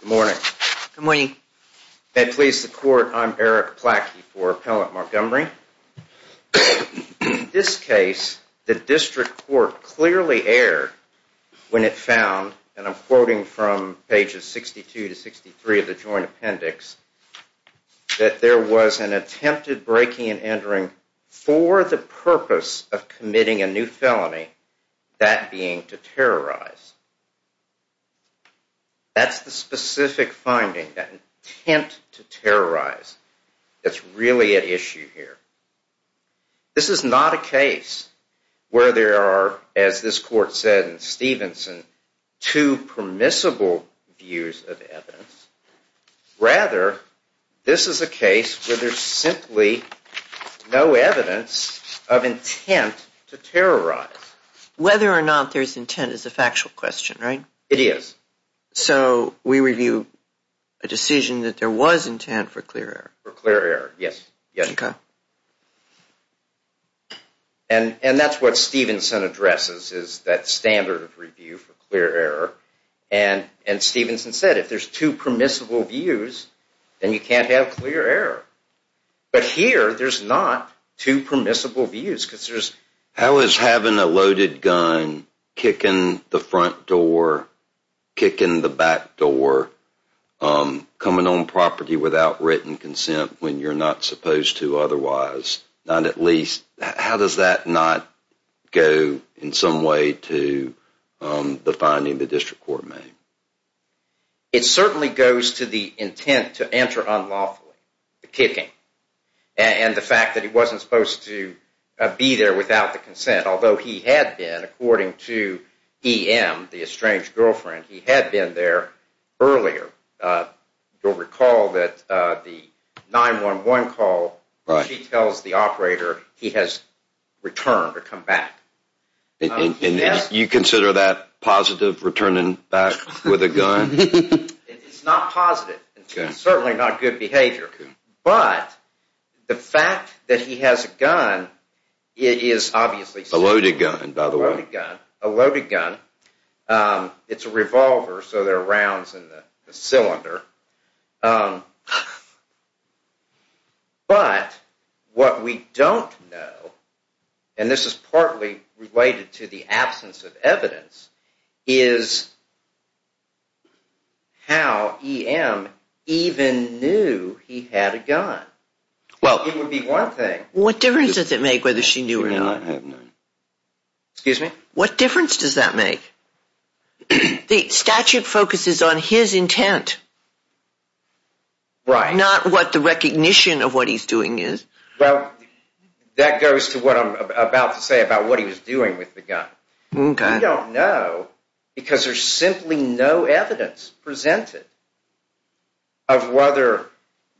Good morning. Good morning, and please support. I'm Eric Plackey for Appellant Montgomery. In this case, the District Court clearly erred when it found, and I'm quoting from pages 62 to 63 of the Joint Appendix, that there was an attempted breaking and entering for the purpose of committing a new felony, that being to terrorize. That's the specific finding, that intent to terrorize, that's really at issue here. This is not a case where there are, as this Court said in Stevenson, two permissible views of evidence. Rather, this is a case where there's simply no evidence of intent to terrorize. Whether or not there's intent is a factual question, right? It is. So we review a decision that there was intent for clear error. For clear error, yes. Okay. And that's what Stevenson addresses, is that standard of review for clear error. And Stevenson said, if there's two permissible views, then you can't have clear error. But here, there's not two permissible views, because there's... How is having a loaded gun kicking the front door, kicking the back door, coming on property without written consent when you're not supposed to otherwise, not at least... How does that not go in some way to the finding the District Court made? It certainly goes to the intent to enter unlawfully, the kicking, and the fact that he wasn't supposed to be there without the consent, although he had been, according to EM, the estranged girlfriend, he had been there earlier. You'll recall that the 911 call, she tells the operator he has returned or come back. And you consider that positive, returning back with a gun? It's not positive. It's certainly not good behavior. But the fact that he has a gun is obviously... A loaded gun, by the way. A loaded gun. It's a revolver, so there are rounds in the cylinder. But what we don't know, and this is partly related to the absence of evidence, is how EM even knew he had a gun. It would be one thing... What difference does it make whether she knew or not? Excuse me? What difference does that make? The statute focuses on his intent. Right. Not what the recognition of what he's doing is. Well, that goes to what I'm about to say about what he was doing with the gun. Okay. We don't know because there's simply no evidence presented of whether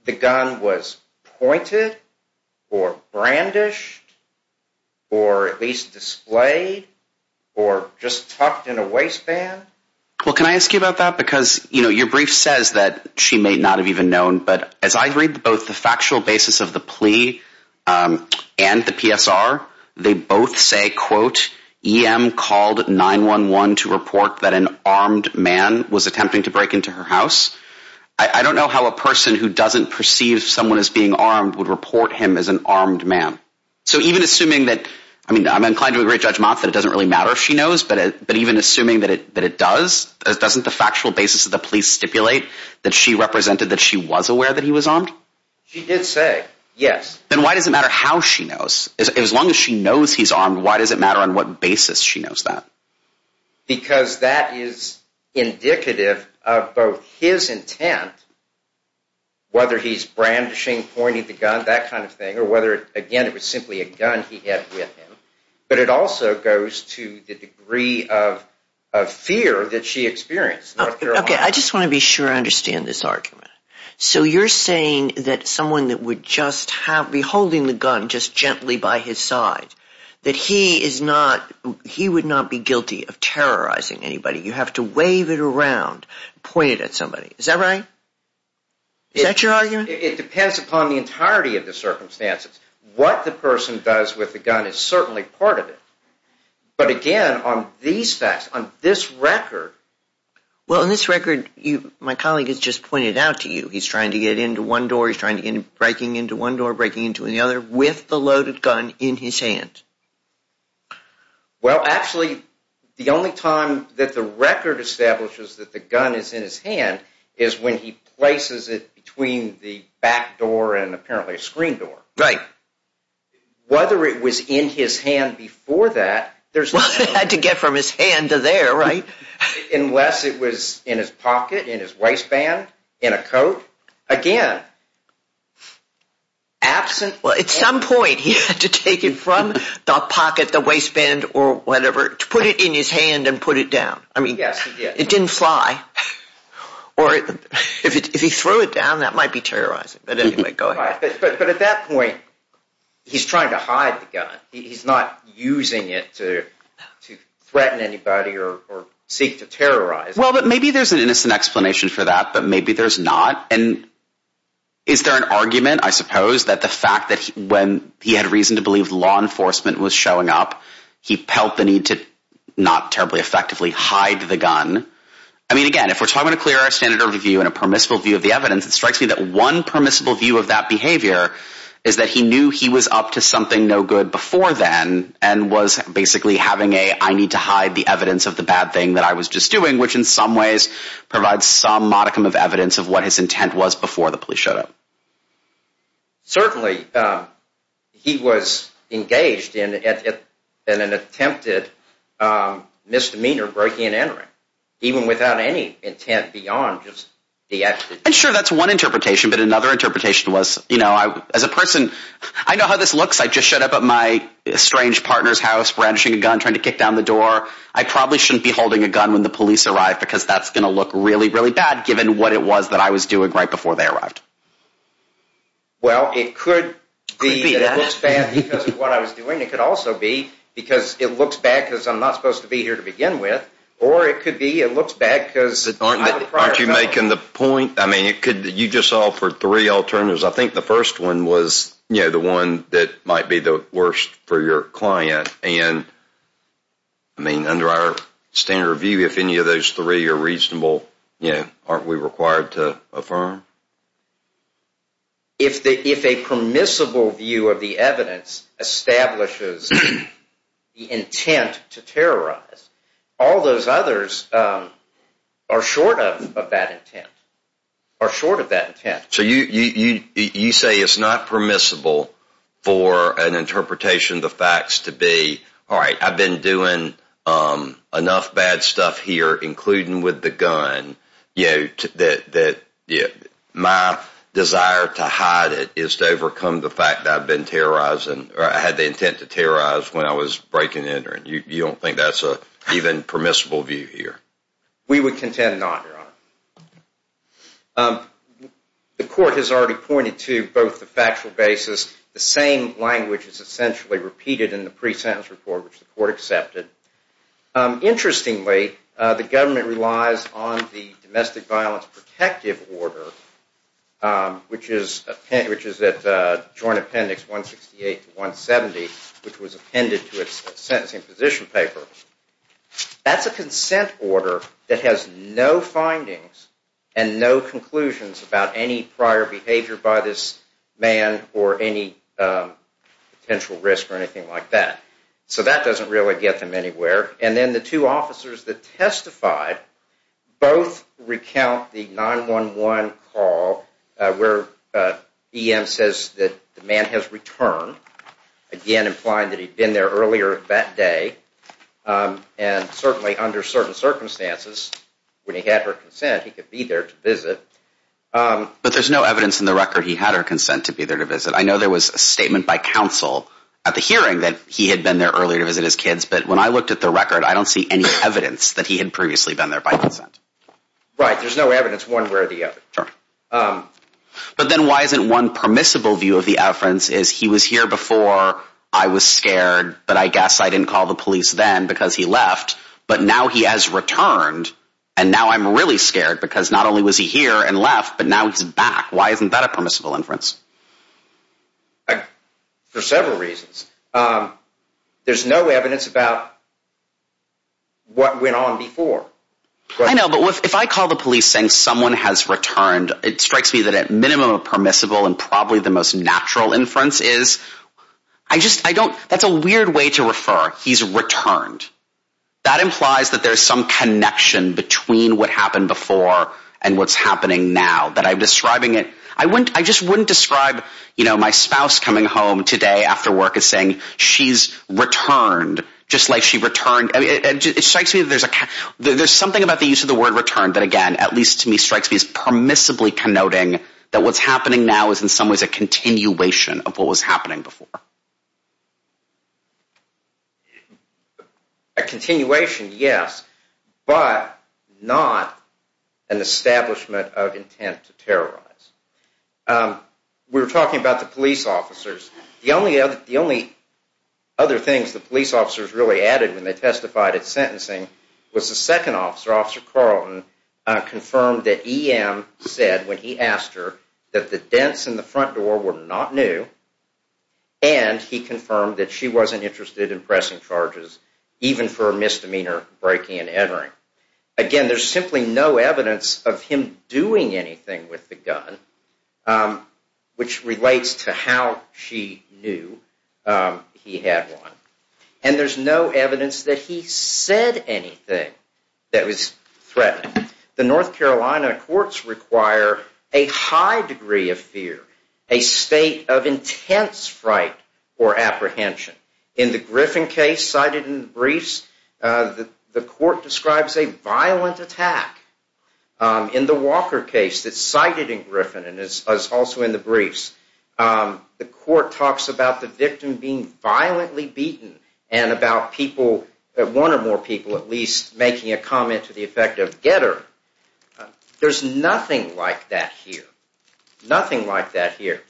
the gun was pointed or brandished or at least displayed or just tucked in a waistband. Well, can I ask you about that? Because your brief says that she may not have even known, but as I read both the factual basis of the plea and the PSR, they both say, quote, EM called 911 to report that an armed man was attempting to break into her house. I don't know how a person who doesn't perceive someone as being armed would report him as an armed man. So even assuming that... I mean, I'm inclined to agree with Judge Motz that it doesn't really matter if she knows, but even assuming that it does, doesn't the factual basis of the plea stipulate that she represented that she was aware that he was armed? She did say, yes. Then why does it matter how she knows? As long as she knows he's armed, why does it matter on what basis she knows that? Because that is indicative of both his intent, whether he's brandishing, pointing the gun, that kind of thing, or whether, again, it was simply a gun he had with him, but it also goes to the degree of fear that she experienced. Okay, I just want to be sure I understand this argument. That he is not, he would not be guilty of terrorizing anybody. You have to wave it around, point it at somebody. Is that right? Is that your argument? It depends upon the entirety of the circumstances. What the person does with the gun is certainly part of it. But again, on these facts, on this record... Well, on this record, my colleague has just pointed out to you, he's trying to get into one door, he's breaking into one door, breaking into another with the loaded gun in his hand. Well, actually, the only time that the record establishes that the gun is in his hand is when he places it between the back door and apparently a screen door. Right. Whether it was in his hand before that... Well, he had to get from his hand to there, right? Unless it was in his pocket, in his waistband, in a coat. Again, absent... Well, at some point, he had to take it from the pocket, the waistband, or whatever, to put it in his hand and put it down. I mean, it didn't fly. Or if he threw it down, that might be terrorizing. But anyway, go ahead. But at that point, he's trying to hide the gun. He's not using it to threaten anybody or seek to terrorize. Well, but maybe there's an innocent explanation for that, but maybe there's not. And is there an argument, I suppose, that the fact that when he had reason to believe law enforcement was showing up, he felt the need to not terribly effectively hide the gun? I mean, again, if we're talking about a clear standard of review and a permissible view of the evidence, it strikes me that one permissible view of that behavior is that he knew he was up to something no good before then and was basically having a, I need to hide the evidence of the bad thing that I was just doing, which in some ways provides some modicum of evidence of what his intent was before the police showed up. Certainly, he was engaged in an attempted misdemeanor, breaking and entering, even without any intent beyond just the act. And sure, that's one interpretation, but another interpretation was, you know, as a person, I know how this looks. I just showed up at my estranged partner's house, brandishing a gun, trying to kick down the door. I probably shouldn't be holding a gun when the police arrive because that's going to look really, really bad, given what it was that I was doing right before they arrived. Well, it could be that it looks bad because of what I was doing. It could also be because it looks bad because I'm not supposed to be here to begin with. Or it could be it looks bad because I'm a prior felon. Aren't you making the point? I mean, you just offered three alternatives. I think the first one was, you know, the one that might be the worst for your client. And, I mean, under our standard of view, if any of those three are reasonable, you know, aren't we required to affirm? If a permissible view of the evidence establishes the intent to terrorize, all those others are short of that intent, are short of that intent. So you say it's not permissible for an interpretation of the facts to be, all right, I've been doing enough bad stuff here, including with the gun, you know, that my desire to hide it is to overcome the fact that I've been terrorizing or I had the intent to terrorize when I was breaking in. You don't think that's an even permissible view here? We would contend not, Your Honor. The court has already pointed to both the factual basis. The same language is essentially repeated in the pre-sentence report, which the court accepted. Interestingly, the government relies on the domestic violence protective order, which is at Joint Appendix 168 to 170, which was appended to its sentencing position paper. That's a consent order that has no findings and no conclusions about any prior behavior by this man or any potential risk or anything like that. So that doesn't really get them anywhere. And then the two officers that testified both recount the 911 call where EM says that the man has returned, again implying that he'd been there earlier that day, and certainly under certain circumstances, when he had her consent, that he could be there to visit. But there's no evidence in the record he had her consent to be there to visit. I know there was a statement by counsel at the hearing that he had been there earlier to visit his kids, but when I looked at the record, I don't see any evidence that he had previously been there by consent. Right. There's no evidence one way or the other. But then why isn't one permissible view of the inference is he was here before, I was scared, but I guess I didn't call the police then because he left, but now he has returned, and now I'm really scared because not only was he here and left, but now he's back. Why isn't that a permissible inference? For several reasons. There's no evidence about what went on before. I know, but if I call the police saying someone has returned, it strikes me that at minimum a permissible and probably the most natural inference is, I just, I don't, that's a weird way to refer. He's returned. That implies that there's some connection between what happened before and what's happening now, that I'm describing it, I just wouldn't describe my spouse coming home today after work as saying she's returned, just like she returned, it strikes me that there's a, there's something about the use of the word return that again, at least to me, strikes me as permissibly connoting that what's happening now is in some ways a continuation of what was happening before. A continuation, yes, but not an establishment of intent to terrorize. We were talking about the police officers. The only other things the police officers really added when they testified at sentencing was the second officer, Officer Carlton, confirmed that EM said when he asked her that the dents in the front door were not new and he confirmed that she wasn't interested in pressing charges even for a misdemeanor breaking and entering. Again, there's simply no evidence of him doing anything with the gun which relates to how she knew he had one and there's no evidence that he said anything that was threatening. The North Carolina courts require a high degree of fear, a state of intense fright or apprehension. In the Griffin case cited in the briefs, the court describes a violent attack. In the Walker case that's cited in Griffin and is also in the briefs, the court talks about the victim being violently beaten and about people, one or more people at least, making a comment to the effect of getter. There's nothing like that here. Nothing like that here.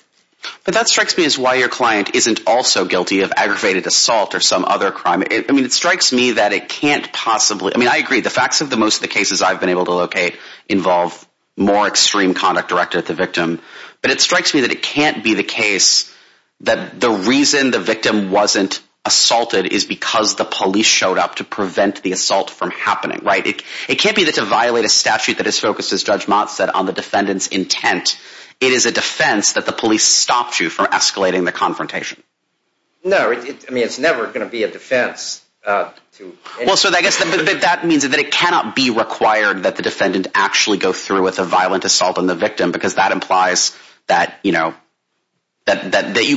But that strikes me as why your client isn't also guilty of aggravated assault or some other crime. I mean it strikes me that it can't possibly, I mean I agree the facts of most of the cases I've been able to locate involve more extreme conduct directed at the victim but it strikes me that it can't be the case that the reason the victim wasn't assaulted is because the police showed up to prevent the assault from happening. It can't be that to violate a statute that is focused, as Judge Mott said, on the defendant's intent. It is a defense that the police stopped you from escalating the confrontation. No, I mean it's never going to be a defense. That means that it cannot be required that the defendant actually go through with a violent assault on the victim because that implies that you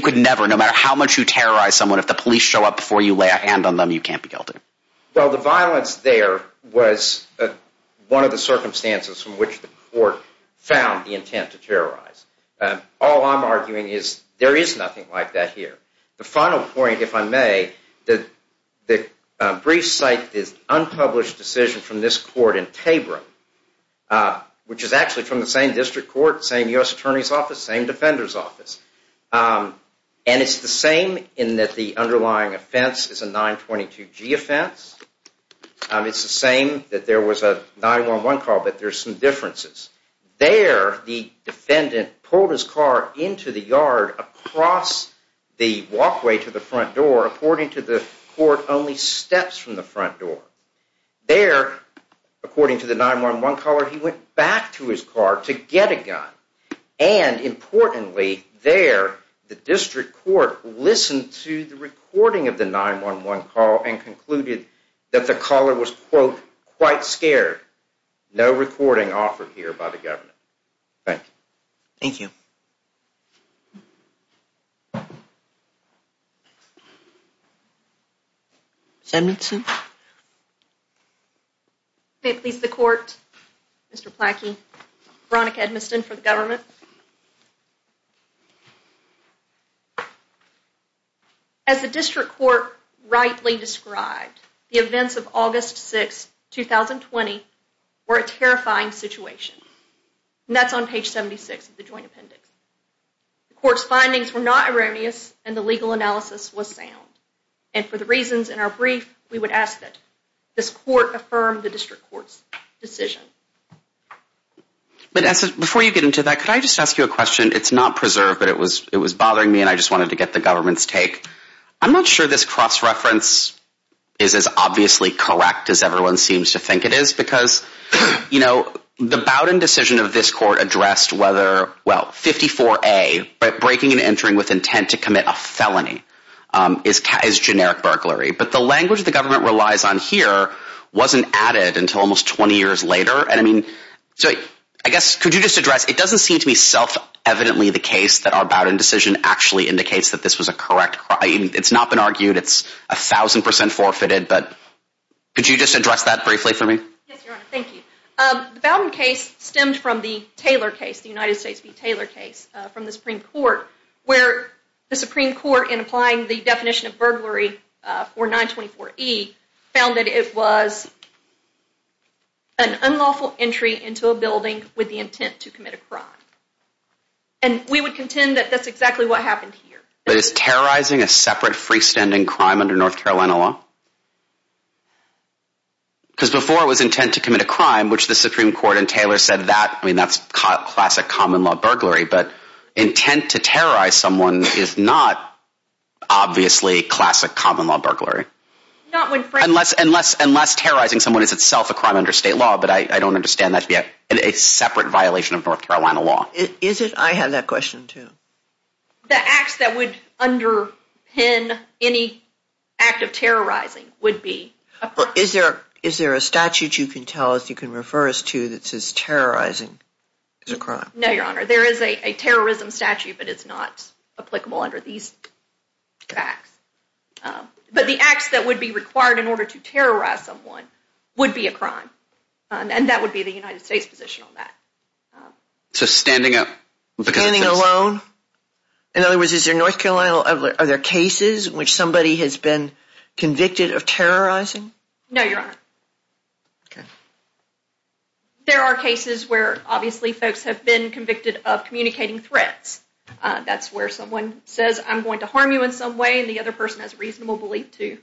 could never, no matter how much you terrorize someone, if the police show up before you lay a hand on them, you can't be guilty. Well, the violence there was one of the circumstances from which the court found the intent to terrorize. All I'm arguing is there is nothing like that here. The final point, if I may, the brief cite is unpublished decision from this court in Tabroom which is actually from the same district court, same U.S. And it's the same in that the underlying offense is a 922G offense. It's the same that there was a 911 call, but there's some differences. There, the defendant pulled his car into the yard across the walkway to the front door, according to the court, only steps from the front door. There, according to the 911 caller, he went back to his car to get a gun. And, importantly, there, the district court listened to the recording of the 911 call and concluded that the caller was, quote, quite scared. No recording offered here by the government. Thank you. Edmondson. Please, the court. Mr. Plackey. Veronica Edmondson for the government. As the district court rightly described, the events of August 6, 2020 were a terrifying situation. And that's on page 76 of the joint appendix. The court's findings were not erroneous and the legal analysis was sound. And for the reasons in our brief, we would ask that this court affirm the district court's decision. But before you get into that, could I just ask you a question? It's not preserved, but it was bothering me and I just wanted to get the government's take. I'm not sure this cross-reference is as obviously correct as everyone seems to think it is because, you know, the Bowdoin decision of this court addressed whether, well, 54A, breaking and entering with intent to commit a felony, is generic burglary. But the language the government relies on here wasn't added until almost 20 years later. And I mean, so I guess, could you just address, it doesn't seem to me self-evidently the case that our Bowdoin decision actually indicates that this was a correct crime. It's not been argued. It's a thousand percent forfeited. But could you just address that briefly for me? Yes, Your Honor. Thank you. The Bowdoin case stemmed from the Taylor case, the United States v. Taylor case from the Supreme Court, where the Supreme Court, in applying the definition of burglary, it was an unlawful entry into a building with the intent to commit a crime. And we would contend that that's exactly what happened here. But is terrorizing a separate freestanding crime under North Carolina law? Because before it was intent to commit a crime, which the Supreme Court and Taylor said that, I mean, that's classic common law burglary. But intent to terrorize someone is not obviously classic common law burglary. Unless terrorizing someone is itself a crime under state law, but I don't understand that to be a separate violation of North Carolina law. I have that question, too. The acts that would underpin any act of terrorizing would be a crime. Is there a statute you can tell us, you can refer us to, that says terrorizing is a crime? No, Your Honor. There is a terrorism statute, but it's not applicable under these facts. But the acts that would be required in order to terrorize someone would be a crime. And that would be the United States position on that. So standing alone? In other words, are there cases in which somebody has been convicted of terrorizing? No, Your Honor. There are cases where, obviously, folks have been says, I'm going to harm you in some way, and the other person has reasonable belief to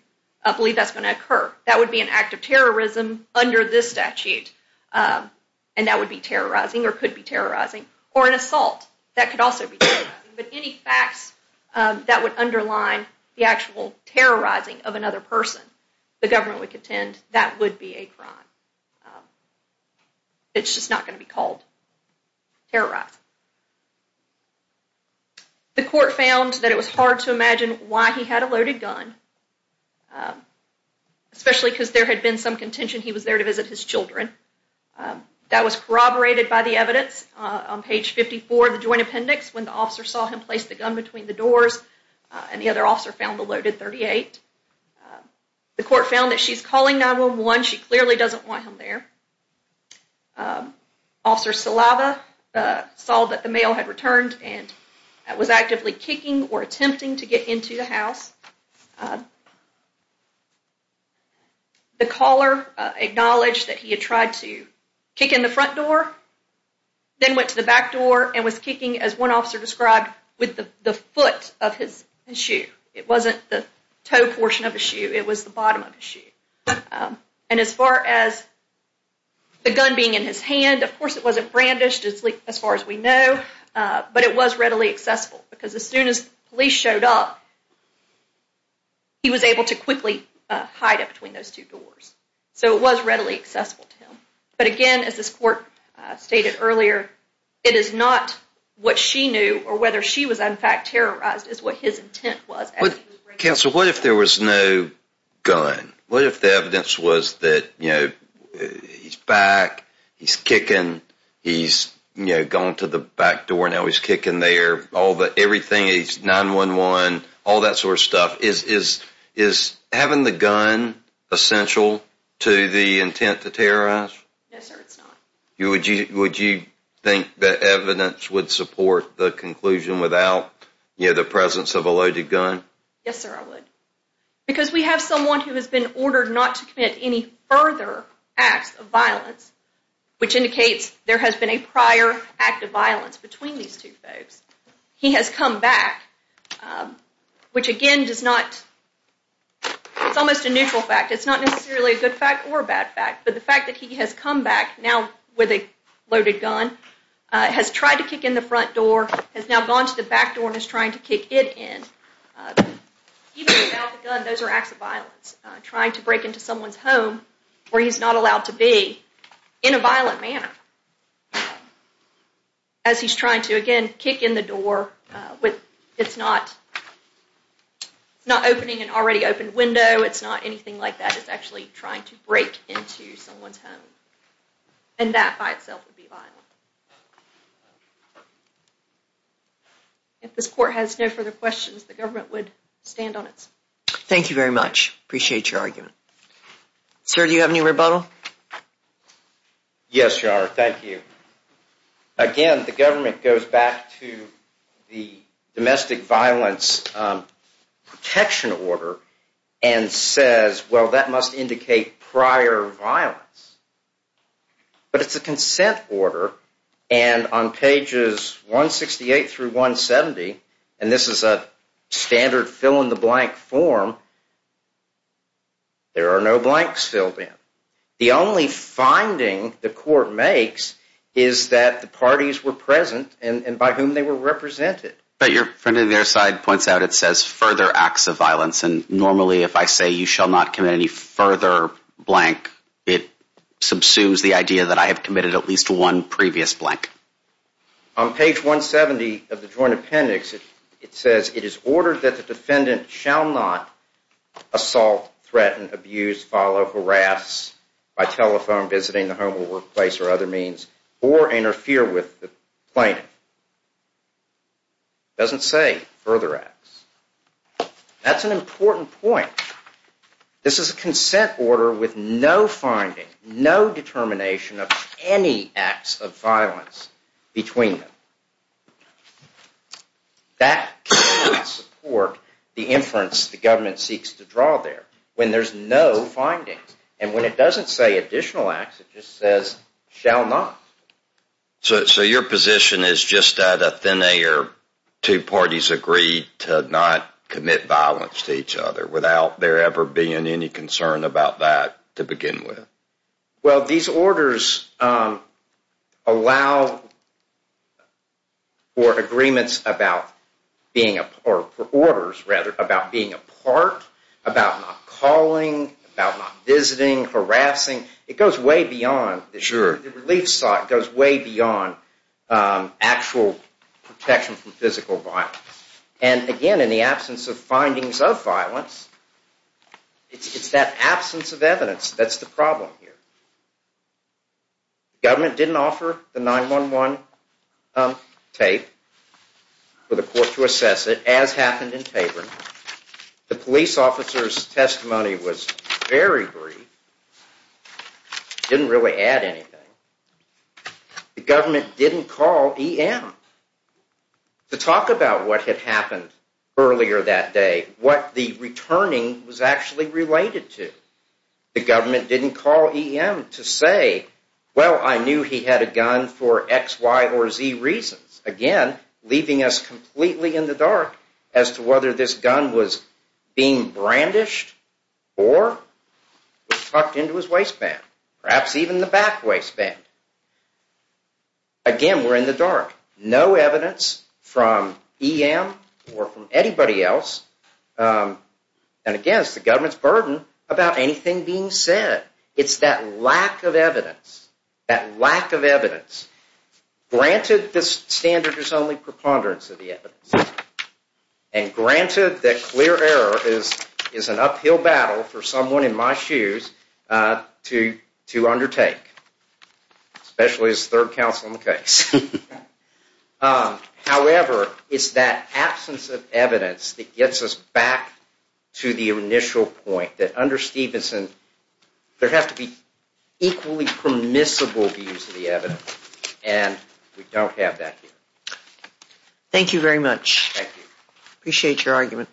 believe that's going to occur. That would be an act of terrorism under this statute. And that would be terrorizing or could be terrorizing. Or an assault. That could also be terrorizing. But any facts that would underline the actual terrorizing of another person, the government would contend that would be a crime. It's just not going to be called terrorizing. The court found that it was hard to imagine why he had a loaded gun. Especially because there had been some contention he was there to visit his children. That was corroborated by the evidence on page 54 of the joint appendix when the officer saw him place the gun between the doors and the other officer found the loaded .38. The court found that she's calling 911. She clearly doesn't want him there. Officer Salava saw that the mail had returned and was actively kicking or attempting to get into the house. The caller acknowledged that he had tried to kick in the front door then went to the back door and was kicking, as one officer described, with the foot of his shoe. It wasn't the toe portion of his shoe. It was the bottom of his shoe. And as far as the gun being in his hand, of course it wasn't brandished as far as we know, but it was readily accessible because as soon as police showed up he was able to quickly hide it between those two doors. So it was readily accessible to him. But again, as this court stated earlier it is not what she knew or whether she was in fact terrorized is what his intent was. Counsel, what if there was no gun? What if the evidence was that he's back, he's kicking, he's gone to the back door and now he's kicking there. Everything is 911, all that sort of stuff. Is having the gun essential to the intent to terrorize? No sir, it's not. Would you think that evidence would support the conclusion without the presence of a loaded gun? Yes sir, I would. Because we have someone who has been ordered not to commit any further acts of violence which indicates there has been a prior act of violence between these two folks. He has come back, which again does not, it's almost a neutral fact. It's not necessarily a good fact or a bad fact, but the fact that he has come back now with a loaded gun has tried to kick in the front door, has now gone to the back door and is trying to kick it in. Even without the gun, those are acts of violence. Trying to break into someone's home where he's not allowed to be in a violent manner. As he's trying to again kick in the door with, it's not opening an already opened window, it's not anything like that, it's actually trying to break into someone's home. And that by itself would be violent. If this court has no further questions, the government would stand on its. Thank you very much, appreciate your argument. Sir, do you have any rebuttal? Yes your honor, thank you. Again, the government goes back to the domestic violence protection order and says, well that must indicate prior violence. But it's a consent order and on pages 168-170, and this is a standard fill-in-the-blank form, there are no blanks filled in. The only finding the court makes is that the parties were present and by whom they were represented. But your friend on the other side points out it says further acts of violence and normally if I say you shall not commit any further blank, it subsumes the idea that I have committed at least one previous blank. On page 170 of the joint appendix, it says it is ordered that the defendant shall not assault, threaten, abuse, follow, harass by telephone, visiting the home or workplace or other means, or interfere with the plaintiff. It doesn't say further acts. That's an important point. This is a consent order with no finding, no determination of any acts of violence between them. That can't support the inference the government seeks to draw there when there's no findings. And when it doesn't say additional acts, it just says shall not. So your position is just that a thin air, two parties agreed to not commit violence to each other without there ever being any concern about that to begin with? Well, these orders allow for agreements about being apart, or orders rather, about being apart, about not calling, about not visiting, harassing. It goes way beyond. Sure. The relief site goes way beyond actual protection from physical violence. And again, in the absence of findings of violence, it's that absence of evidence that's the problem here. The government didn't offer the 9-1-1 tape for the court to assess it, as happened in Taborn. The police officer's testimony was very brief. Didn't really add anything. The government didn't call EM to talk about what had happened earlier that day, what the returning was actually related to. The government didn't call EM to say, well, I knew he had a gun for X, Y, or Z reasons. Again, leaving us completely in the dark as to whether this gun was being tucked into his waistband, perhaps even the back waistband. Again, we're in the dark. No evidence from EM or from anybody else. And again, it's the government's burden about anything being said. It's that lack of evidence. That lack of evidence. Granted, this standard is only preponderance of the evidence. And granted that clear error is an uphill battle for someone in my shoes to undertake. Especially as third counsel in the case. However, it's that absence of evidence that gets us back to the initial point that under Stevenson, there have to be equally permissible views of the evidence. And we don't have that here. Thank you very much. Thank you. Appreciate your argument.